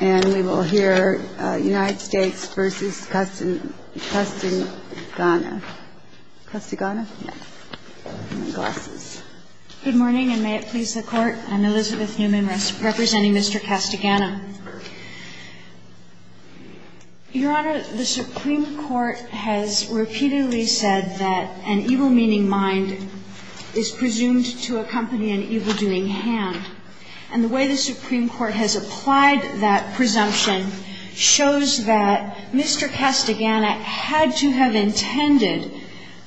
Good morning, and may it please the Court. I'm Elizabeth Newman, representing Mr. Castagana. Your Honor, the Supreme Court has repeatedly said that an evil-meaning mind is presumed to accompany an evildoing hand. And the way the Supreme Court has applied that presumption shows that Mr. Castagana had to have intended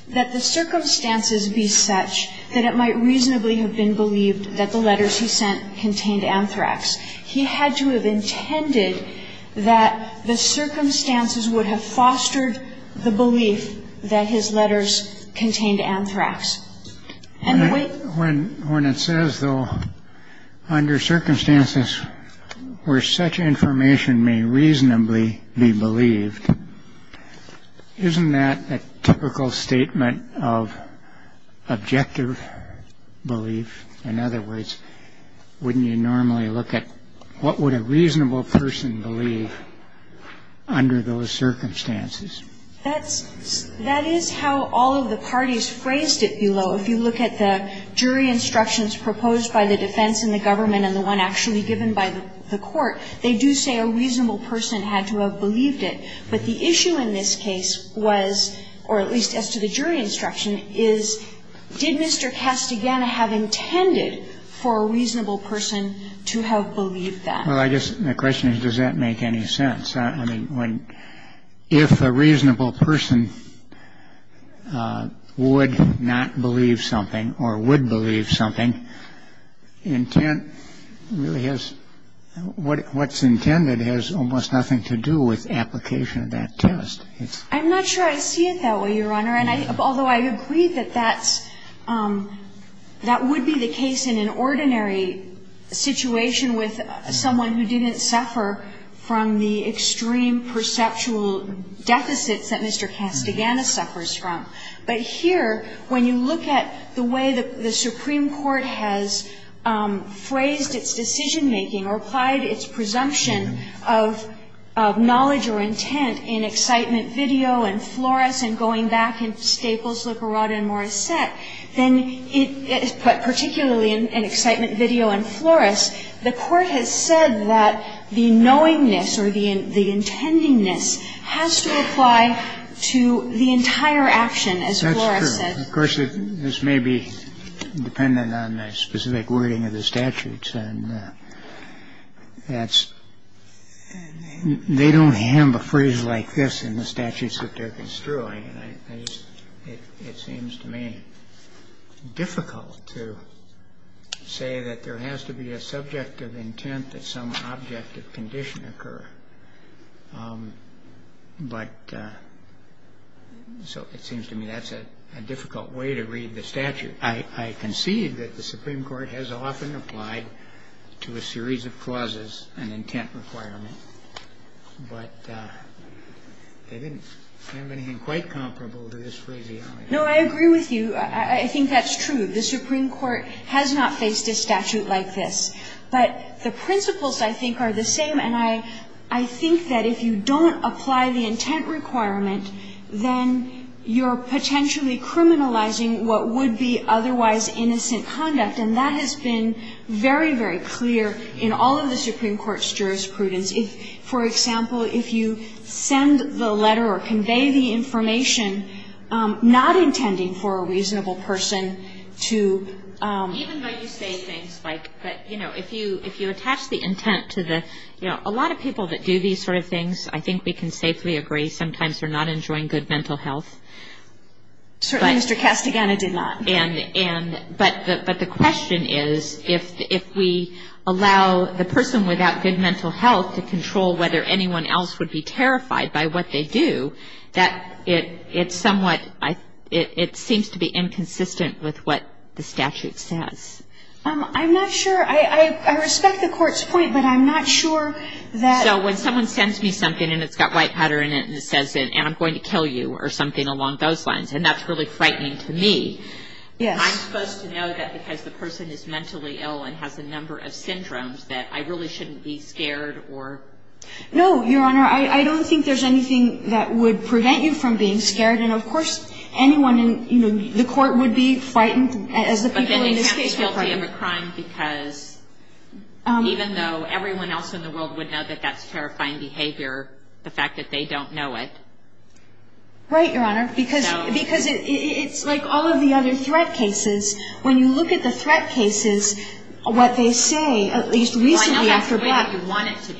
that the circumstances be such that it might reasonably have been believed that the letters he sent contained anthrax. He had to have intended that the circumstances would have fostered the belief that his letters contained anthrax. When it says, though, under circumstances where such information may reasonably be believed, isn't that a typical statement of objective belief? In other words, wouldn't you normally look at what would a reasonable person believe under those circumstances? That's – that is how all of the parties phrased it below. If you look at the jury instructions proposed by the defense and the government and the one actually given by the court, they do say a reasonable person had to have believed it. But the issue in this case was, or at least as to the jury instruction, is did Mr. Castagana have intended for a reasonable person to have believed that? Well, I guess the question is, does that make any sense? I mean, when – if a reasonable person would not believe something or would believe something, intent really has – what's intended has almost nothing to do with application of that test. I'm not sure I see it that way, Your Honor, and I – although I agree that that's That would be the case in an ordinary situation with someone who didn't suffer from the extreme perceptual deficits that Mr. Castagana suffers from. But here, when you look at the way the Supreme Court has phrased its decision-making or applied its presumption of knowledge or intent in Excitement Video and Flores and going back to the way the Supreme Court has phrased its decision-making in Staples, Licorado and Morissette, then it – but particularly in Excitement Video and Flores, the court has said that the knowingness or the intendingness has to apply to the entire action, as Flores said. That's true. Of course, this may be dependent on the specific wording of the statutes, and that's – they don't have a phrase like this in the statutes that they're construing, and I just – it seems to me difficult to say that there has to be a subject of intent that some object of condition occur. But – so it seems to me that's a difficult way to read the statute. I concede that the Supreme Court has often applied to a series of clauses an intent requirement, but they didn't have anything quite comparable to this phrase. No, I agree with you. I think that's true. The Supreme Court has not faced a statute like this. But the principles, I think, are the same, and I think that if you don't apply the intent requirement, then you're potentially criminalizing what would be a otherwise innocent conduct. And that has been very, very clear in all of the Supreme Court's jurisprudence. If, for example, if you send the letter or convey the information not intending for a reasonable person to – Even though you say things like – but, you know, if you attach the intent to the – you know, a lot of people that do these sort of things, I think we can safely agree, sometimes they're not enjoying good mental health. Certainly, Mr. Castigliano did not. And – but the question is, if we allow the person without good mental health to control whether anyone else would be terrified by what they do, that it's somewhat – it seems to be inconsistent with what the statute says. I'm not sure. I respect the Court's point, but I'm not sure that – So when someone sends me something and it's got white powder in it and it says, and I'm going to kill you or something along those lines, and that's really Yes. I'm supposed to know that because the person is mentally ill and has a number of syndromes that I really shouldn't be scared or – No, Your Honor. I don't think there's anything that would prevent you from being scared. And, of course, anyone in, you know, the Court would be frightened as the people in this case would be. But then they can't be guilty of a crime because even though everyone else in the world would know that that's terrifying behavior, the fact that they don't know it. Right, Your Honor. Because it's like all of the other threat cases. When you look at the threat cases, what they say, at least recently after Black – Well, I know that's the way that you want it to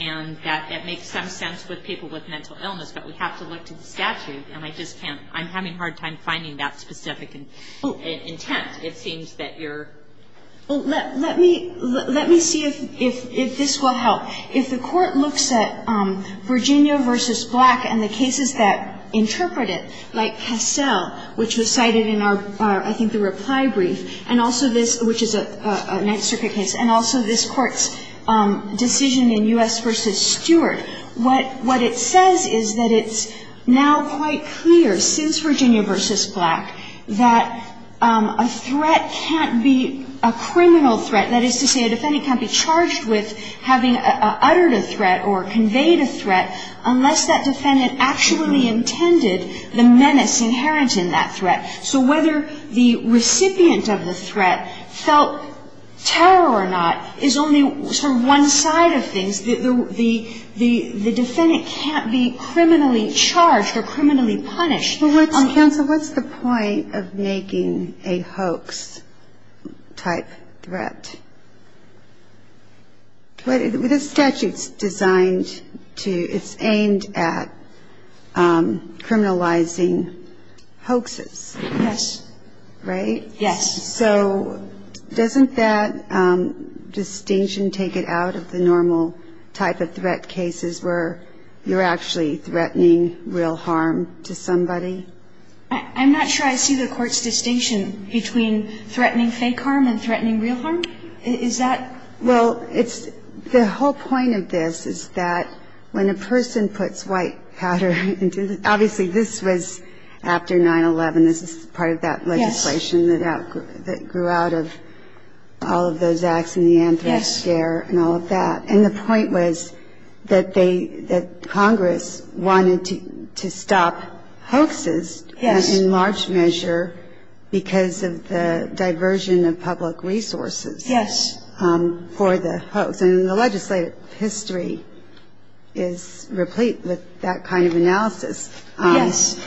be and that it makes some sense with people with mental illness, but we have to look to the statute and I just can't – I'm having a hard time finding that specific intent. It seems that you're – Well, let me see if this will help. If the Court looks at Virginia v. Black and the cases that interpret it, like Cassell, which was cited in our, I think, the reply brief, and also this – which is a Ninth Circuit case, and also this Court's decision in U.S. v. Stewart, what it says is that it's now quite clear since Virginia v. Black that a threat can't be a criminal threat. That is to say, a defendant can't be charged with having uttered a threat or conveyed a threat, but the defendant actually intended the menace inherent in that threat. So whether the recipient of the threat felt terror or not is only sort of one side of things. The defendant can't be criminally charged or criminally punished. Well, what's – Counsel, what's the point of making a hoax-type threat? This statute's designed to – it's aimed at criminalizing hoaxes. Yes. Right? Yes. So doesn't that distinction take it out of the normal type of threat cases where you're actually threatening real harm to somebody? I'm not sure I see the Court's distinction between threatening fake harm and threatening real harm. Is that – Well, it's – the whole point of this is that when a person puts white powder into – obviously, this was after 9-11. This is part of that legislation that grew out of all of those acts in the Anthrax scare and all of that. And the point was that they – that Congress wanted to stop hoaxes in large measure because of the diversion of public resources. Yes. For the hoax. And the legislative history is replete with that kind of analysis. Yes.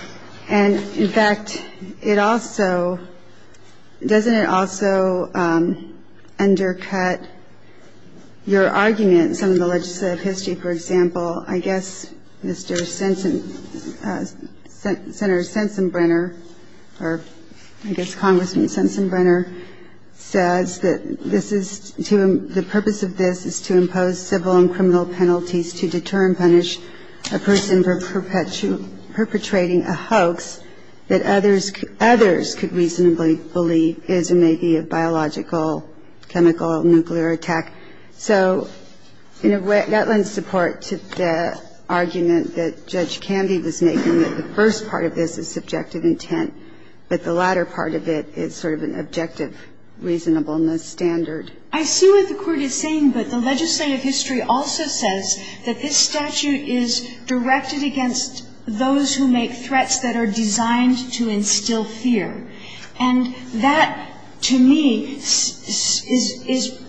And, in fact, it also – doesn't it also undercut your argument in some of the legislative history? For example, I guess Mr. Sensen – Senator Sensenbrenner or I guess Congressman Sensenbrenner says that this is – the purpose of this is to impose civil and criminal penalties to deter and punish a person for perpetrating a hoax that others could reasonably believe is and may be a biological, chemical, nuclear attack. So that lends support to the argument that Judge Candy was making that the first part of this is subjective intent, but the latter part of it is sort of an objective reasonableness standard. I see what the Court is saying, but the legislative history also says that this statute is directed against those who make threats that are designed to instill fear. And that, to me, is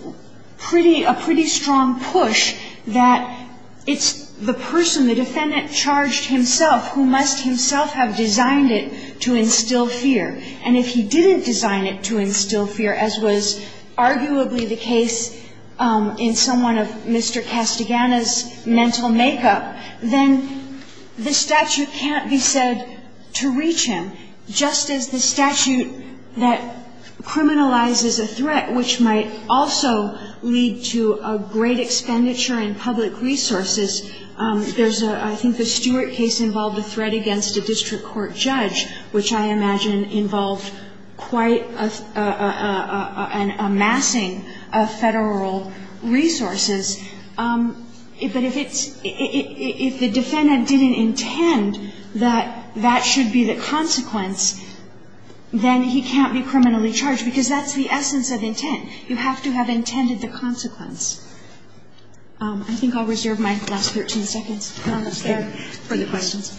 pretty – a pretty strong push that it's the person, the defendant charged himself, who must himself have designed it to instill fear. And if he didn't design it to instill fear, as was arguably the case in someone of Mr. Castigliano's mental makeup, then the statute can't be said to reach him, just as the statute that criminalizes a threat, which might also lead to a great expenditure in public resources. There's a – I think the Stewart case involved a threat against a district court judge, which I imagine involved quite a – an amassing of Federal resources. But if it's – if the defendant didn't intend that that should be the consequence, then he can't be criminally charged, because that's the essence of intent. You have to have intended the consequence. I think I'll reserve my last 13 seconds, Your Honor, for the questions.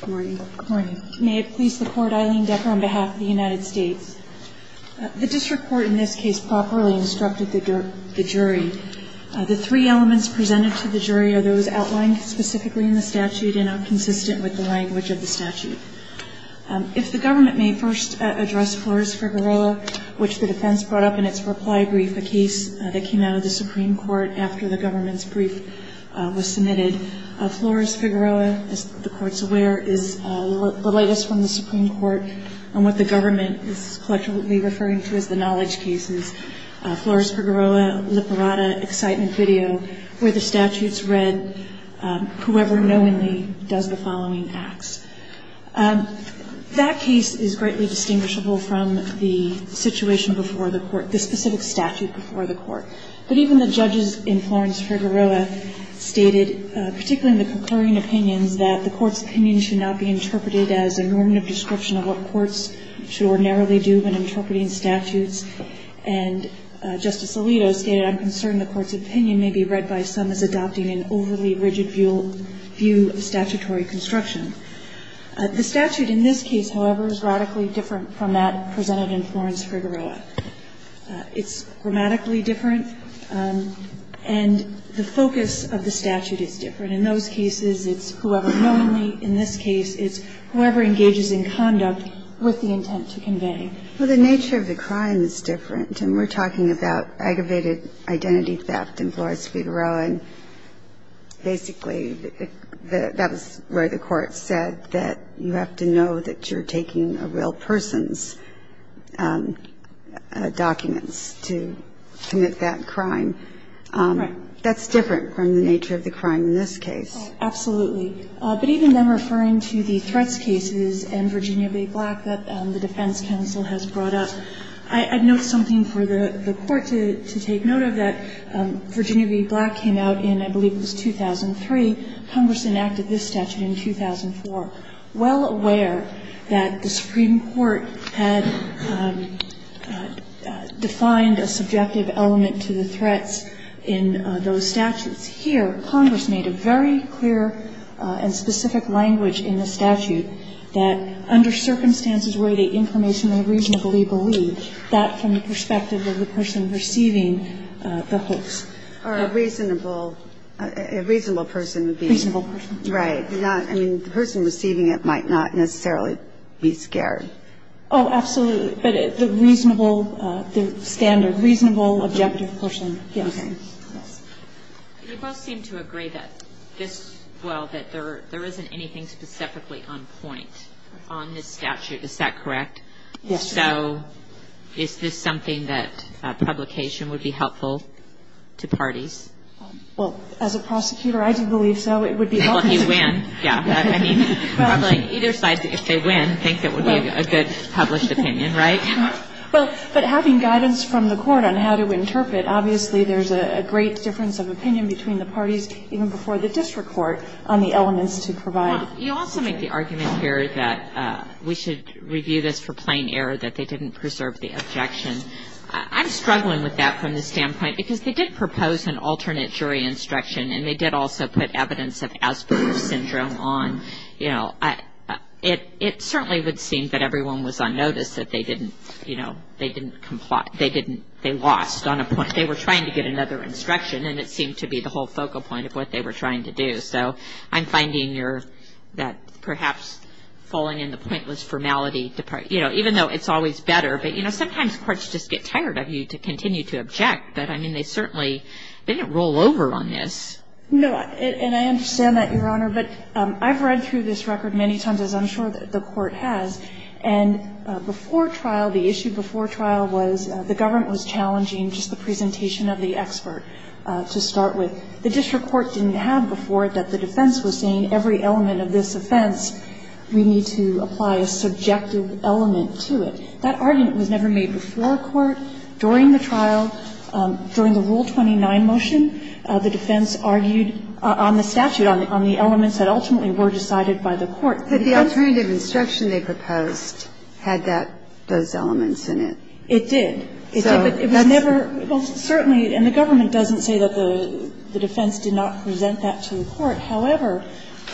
Good morning. Good morning. May it please the Court, Eileen Decker on behalf of the United States. The district court in this case properly instructed the jury. The three elements presented to the jury are those outlined specifically in the statute and are consistent with the language of the statute. If the government may first address Flores-Figueroa, which the defense brought up in its reply brief, a case that came out of the Supreme Court after the government's brief was submitted. Flores-Figueroa, as the Court's aware, is the latest from the Supreme Court on what the government is collectively referring to as the knowledge cases. Flores-Figueroa, liberata, excitement video, where the statute's read, whoever knowingly does the following acts. That case is greatly distinguishable from the situation before the Court, the specific statute before the Court. But even the judges in Flores-Figueroa stated, particularly in the concurring opinions, that the Court's opinion should not be interpreted as a normative description of what courts should ordinarily do when interpreting statutes. And Justice Alito stated, I'm concerned the Court's opinion may be read by some as adopting an overly rigid view of statutory construction. The statute in this case, however, is radically different from that presented in Flores-Figueroa. It's grammatically different, and the focus of the statute is different. In those cases, it's whoever knowingly. In this case, it's whoever engages in conduct with the intent to convey. Well, the nature of the crime is different, and we're talking about aggravated identity theft in Flores-Figueroa. And basically, that was where the Court said that you have to know that you're taking a real person's documents to commit that crime. That's different from the nature of the crime in this case. Absolutely. But even then, referring to the threats cases and Virginia v. Black that the defense counsel has brought up, I'd note something for the Court to take note of, that Virginia v. Black came out in, I believe it was 2003. Congress enacted this statute in 2004. Well aware that the Supreme Court had defined a subjective element to the threats in those statutes, here Congress made a very clear and specific language in the statute that under circumstances where the information reasonably believed, that from the perspective of the person receiving the hoax. Or a reasonable, a reasonable person would be. Reasonable person. Right. I mean, the person receiving it might not necessarily be scared. Oh, absolutely. But the reasonable, the standard reasonable objective person, yes. Okay. Yes. You both seem to agree that this, well, that there isn't anything specifically on point on this statute. Is that correct? Yes. So is this something that publication would be helpful to parties? Well, as a prosecutor, I do believe so. It would be helpful to parties. Well, if you win, yeah. I mean, probably either side, if they win, think that would be a good published opinion, right? Well, but having guidance from the Court on how to interpret, obviously there's a great difference of opinion between the parties, even before the district court, on the elements to provide. You also make the argument here that we should review this for plain error, that they didn't preserve the objection. I'm struggling with that from the standpoint, because they did propose an alternate jury instruction, and they did also put evidence of Asperger's syndrome on. You know, it certainly would seem that everyone was on notice that they didn't, you know, they didn't comply, they didn't, they lost on a point. They were trying to get another instruction, and it seemed to be the whole focal point of what they were trying to do. So I'm finding that perhaps falling in the pointless formality, you know, even though it's always better. But, you know, sometimes courts just get tired of you to continue to object. But, I mean, they certainly didn't roll over on this. No, and I understand that, Your Honor. But I've read through this record many times, as I'm sure that the Court has. And before trial, the issue before trial was the government was challenging just the presentation of the expert, to start with. The district court didn't have before that the defense was saying every element of this offense, we need to apply a subjective element to it. That argument was never made before court. During the trial, during the Rule 29 motion, the defense argued on the statute, on the elements that ultimately were decided by the court. But the alternative instruction they proposed had that, those elements in it. It did. So that's the question. It was never – well, certainly, and the government doesn't say that the defense did not present that to the court. However,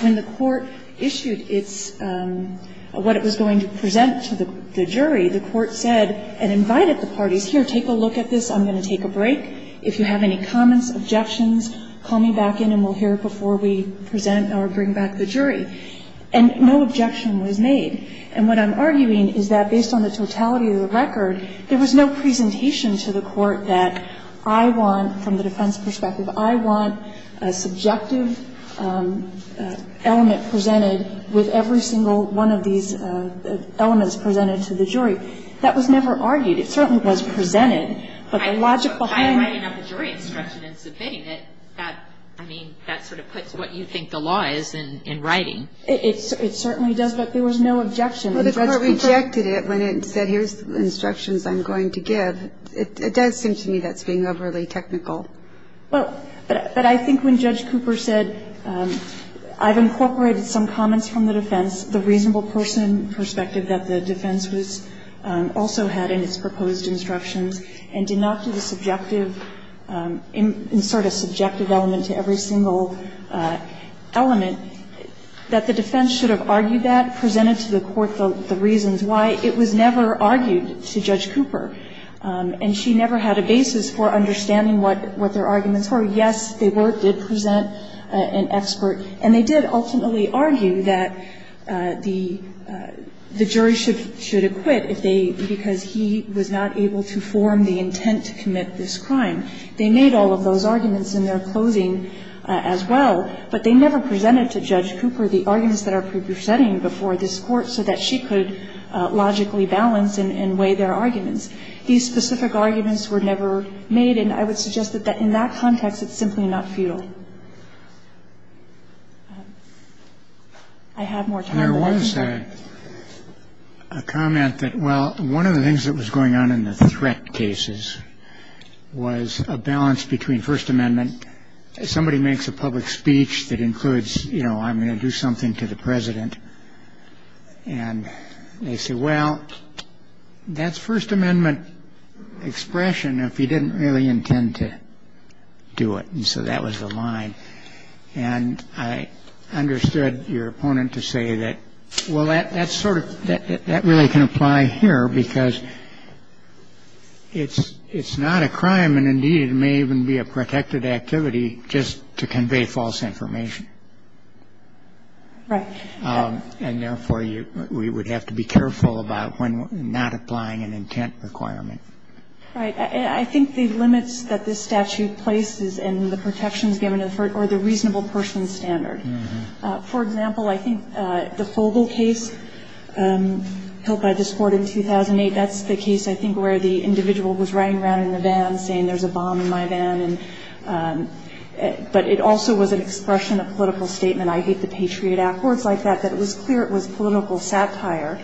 when the court issued its – what it was going to present to the jury, the court said and invited the parties, here, take a look at this, I'm going to take a break. If you have any comments, objections, call me back in and we'll hear before we present or bring back the jury. And no objection was made. And what I'm arguing is that, based on the totality of the record, there was no presentation to the court that I want, from the defense perspective, I want a subjective element presented with every single one of these elements presented to the jury. That was never argued. It certainly was presented, but the logic behind it – By writing up a jury instruction and submitting it, that, I mean, that sort of puts what you think the law is in writing. It certainly does, but there was no objection. And Judge Cooper – But the court rejected it when it said, here's the instructions I'm going to give. It does seem to me that's being overly technical. Well, but I think when Judge Cooper said, I've incorporated some comments from the defense, the reasonable person perspective that the defense was – also had in its proposed instructions, and did not do the subjective – insert a subjective element to every single element, that the defense should have argued that, presented to the court the reasons why. It was never argued to Judge Cooper, and she never had a basis for understanding what their arguments were. Yes, they were – did present an expert, and they did ultimately argue that the jury should acquit if they – because he was not able to form the intent to commit this crime. They made all of those arguments in their closing as well, but they never presented to Judge Cooper the arguments that are pre-presenting before this Court so that she could logically balance and weigh their arguments. These specific arguments were never made, and I would suggest that in that context, it's simply not futile. I have more time for questions. There was a comment that, well, one of the things that was going on in the threat cases was a balance between First Amendment – somebody makes a public speech that includes, you know, I'm going to do something to the President, and they say, well, that's First Amendment expression if you didn't really intend to do it. And so that was the line. And I understood your opponent to say that, well, that's sort of – that really can be a balance between First Amendment and First Amendment, but it's not a crime, and indeed, it may even be a protected activity just to convey false information. And therefore, you – we would have to be careful about when not applying an intent requirement. Right. I think the limits that this statute places in the protections given are the reasonable person standard. For example, I think the Fogle case held by this Court in 2008, that's the case, I think, where the individual was riding around in a van saying, there's a bomb in my van, and – but it also was an expression of political statement, I hate the Patriot Act, words like that, that it was clear it was political satire,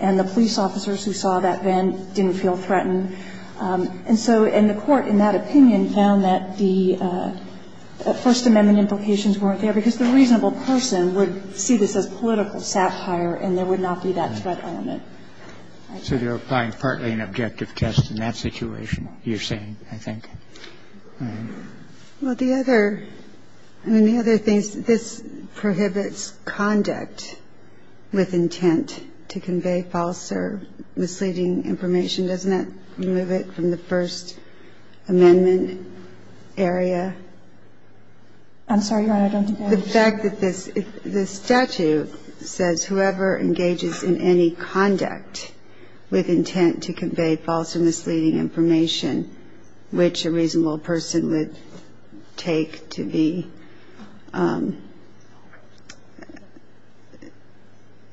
and the police officers who saw that van didn't feel threatened. And so – and the Court, in that opinion, found that the First Amendment implications weren't there, because the reasonable person would see this as political satire, and there would not be that threat element. So you're applying partly an objective test in that situation, you're saying, I think. Well, the other – I mean, the other thing is this prohibits conduct with intent to convey false or misleading information, doesn't it? Remove it from the First Amendment area. I'm sorry, Your Honor, I don't think I understand. The fact that this – the statute says whoever engages in any conduct with intent to convey false or misleading information, which a reasonable person would take to be a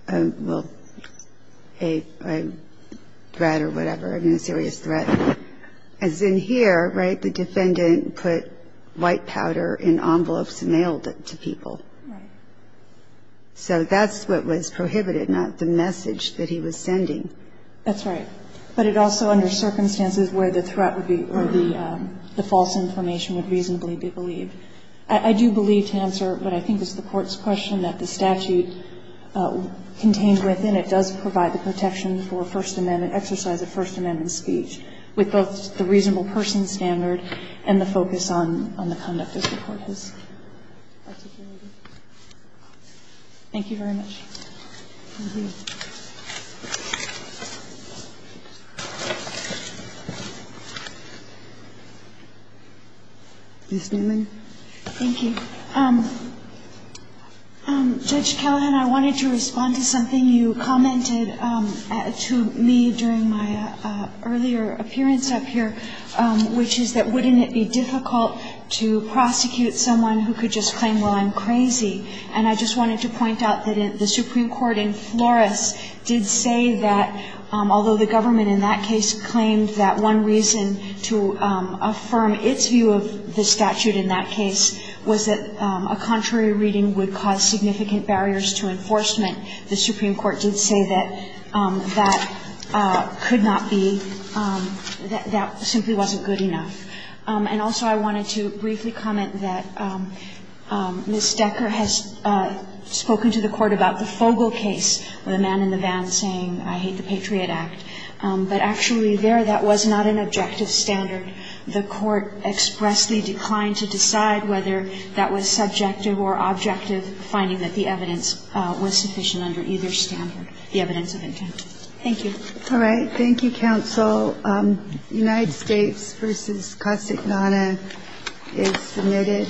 threat or whatever, a serious threat, as in here, right, the defendant put white powder in envelopes and mailed it to people. Right. So that's what was prohibited, not the message that he was sending. That's right. But it also, under circumstances where the threat would be – or the false information would reasonably be believed. I do believe, to answer what I think is the Court's question, that the statute contained within it does provide the protection for First Amendment – exercise of First Amendment speech, with both the reasonable person standard and the focus on the conduct as the Court has articulated. Thank you very much. Ms. Neumann. Thank you. Judge Callahan, I wanted to respond to something you commented to me during my earlier appearance up here, which is that, wouldn't it be difficult to prosecute someone who could just claim, well, I'm crazy? It doesn't do that. It doesn't do that. It doesn't do that. The Supreme Court in Flores did say that, although the government in that case claimed that one reason to affirm its view of the statute in that case was that a contrary reading would cause significant barriers to enforcement, the Supreme Court did say that that could not be – that that simply wasn't good enough. And also, I wanted to briefly comment that Ms. Decker has spoken to the Court about the Fogle case, the man in the van saying, I hate the Patriot Act. But actually, there, that was not an objective standard. The Court expressly declined to decide whether that was subjective or objective, finding that the evidence was sufficient under either standard, the evidence of intent. Thank you. All right. Thank you, counsel. United States v. Casa Ignata is submitted.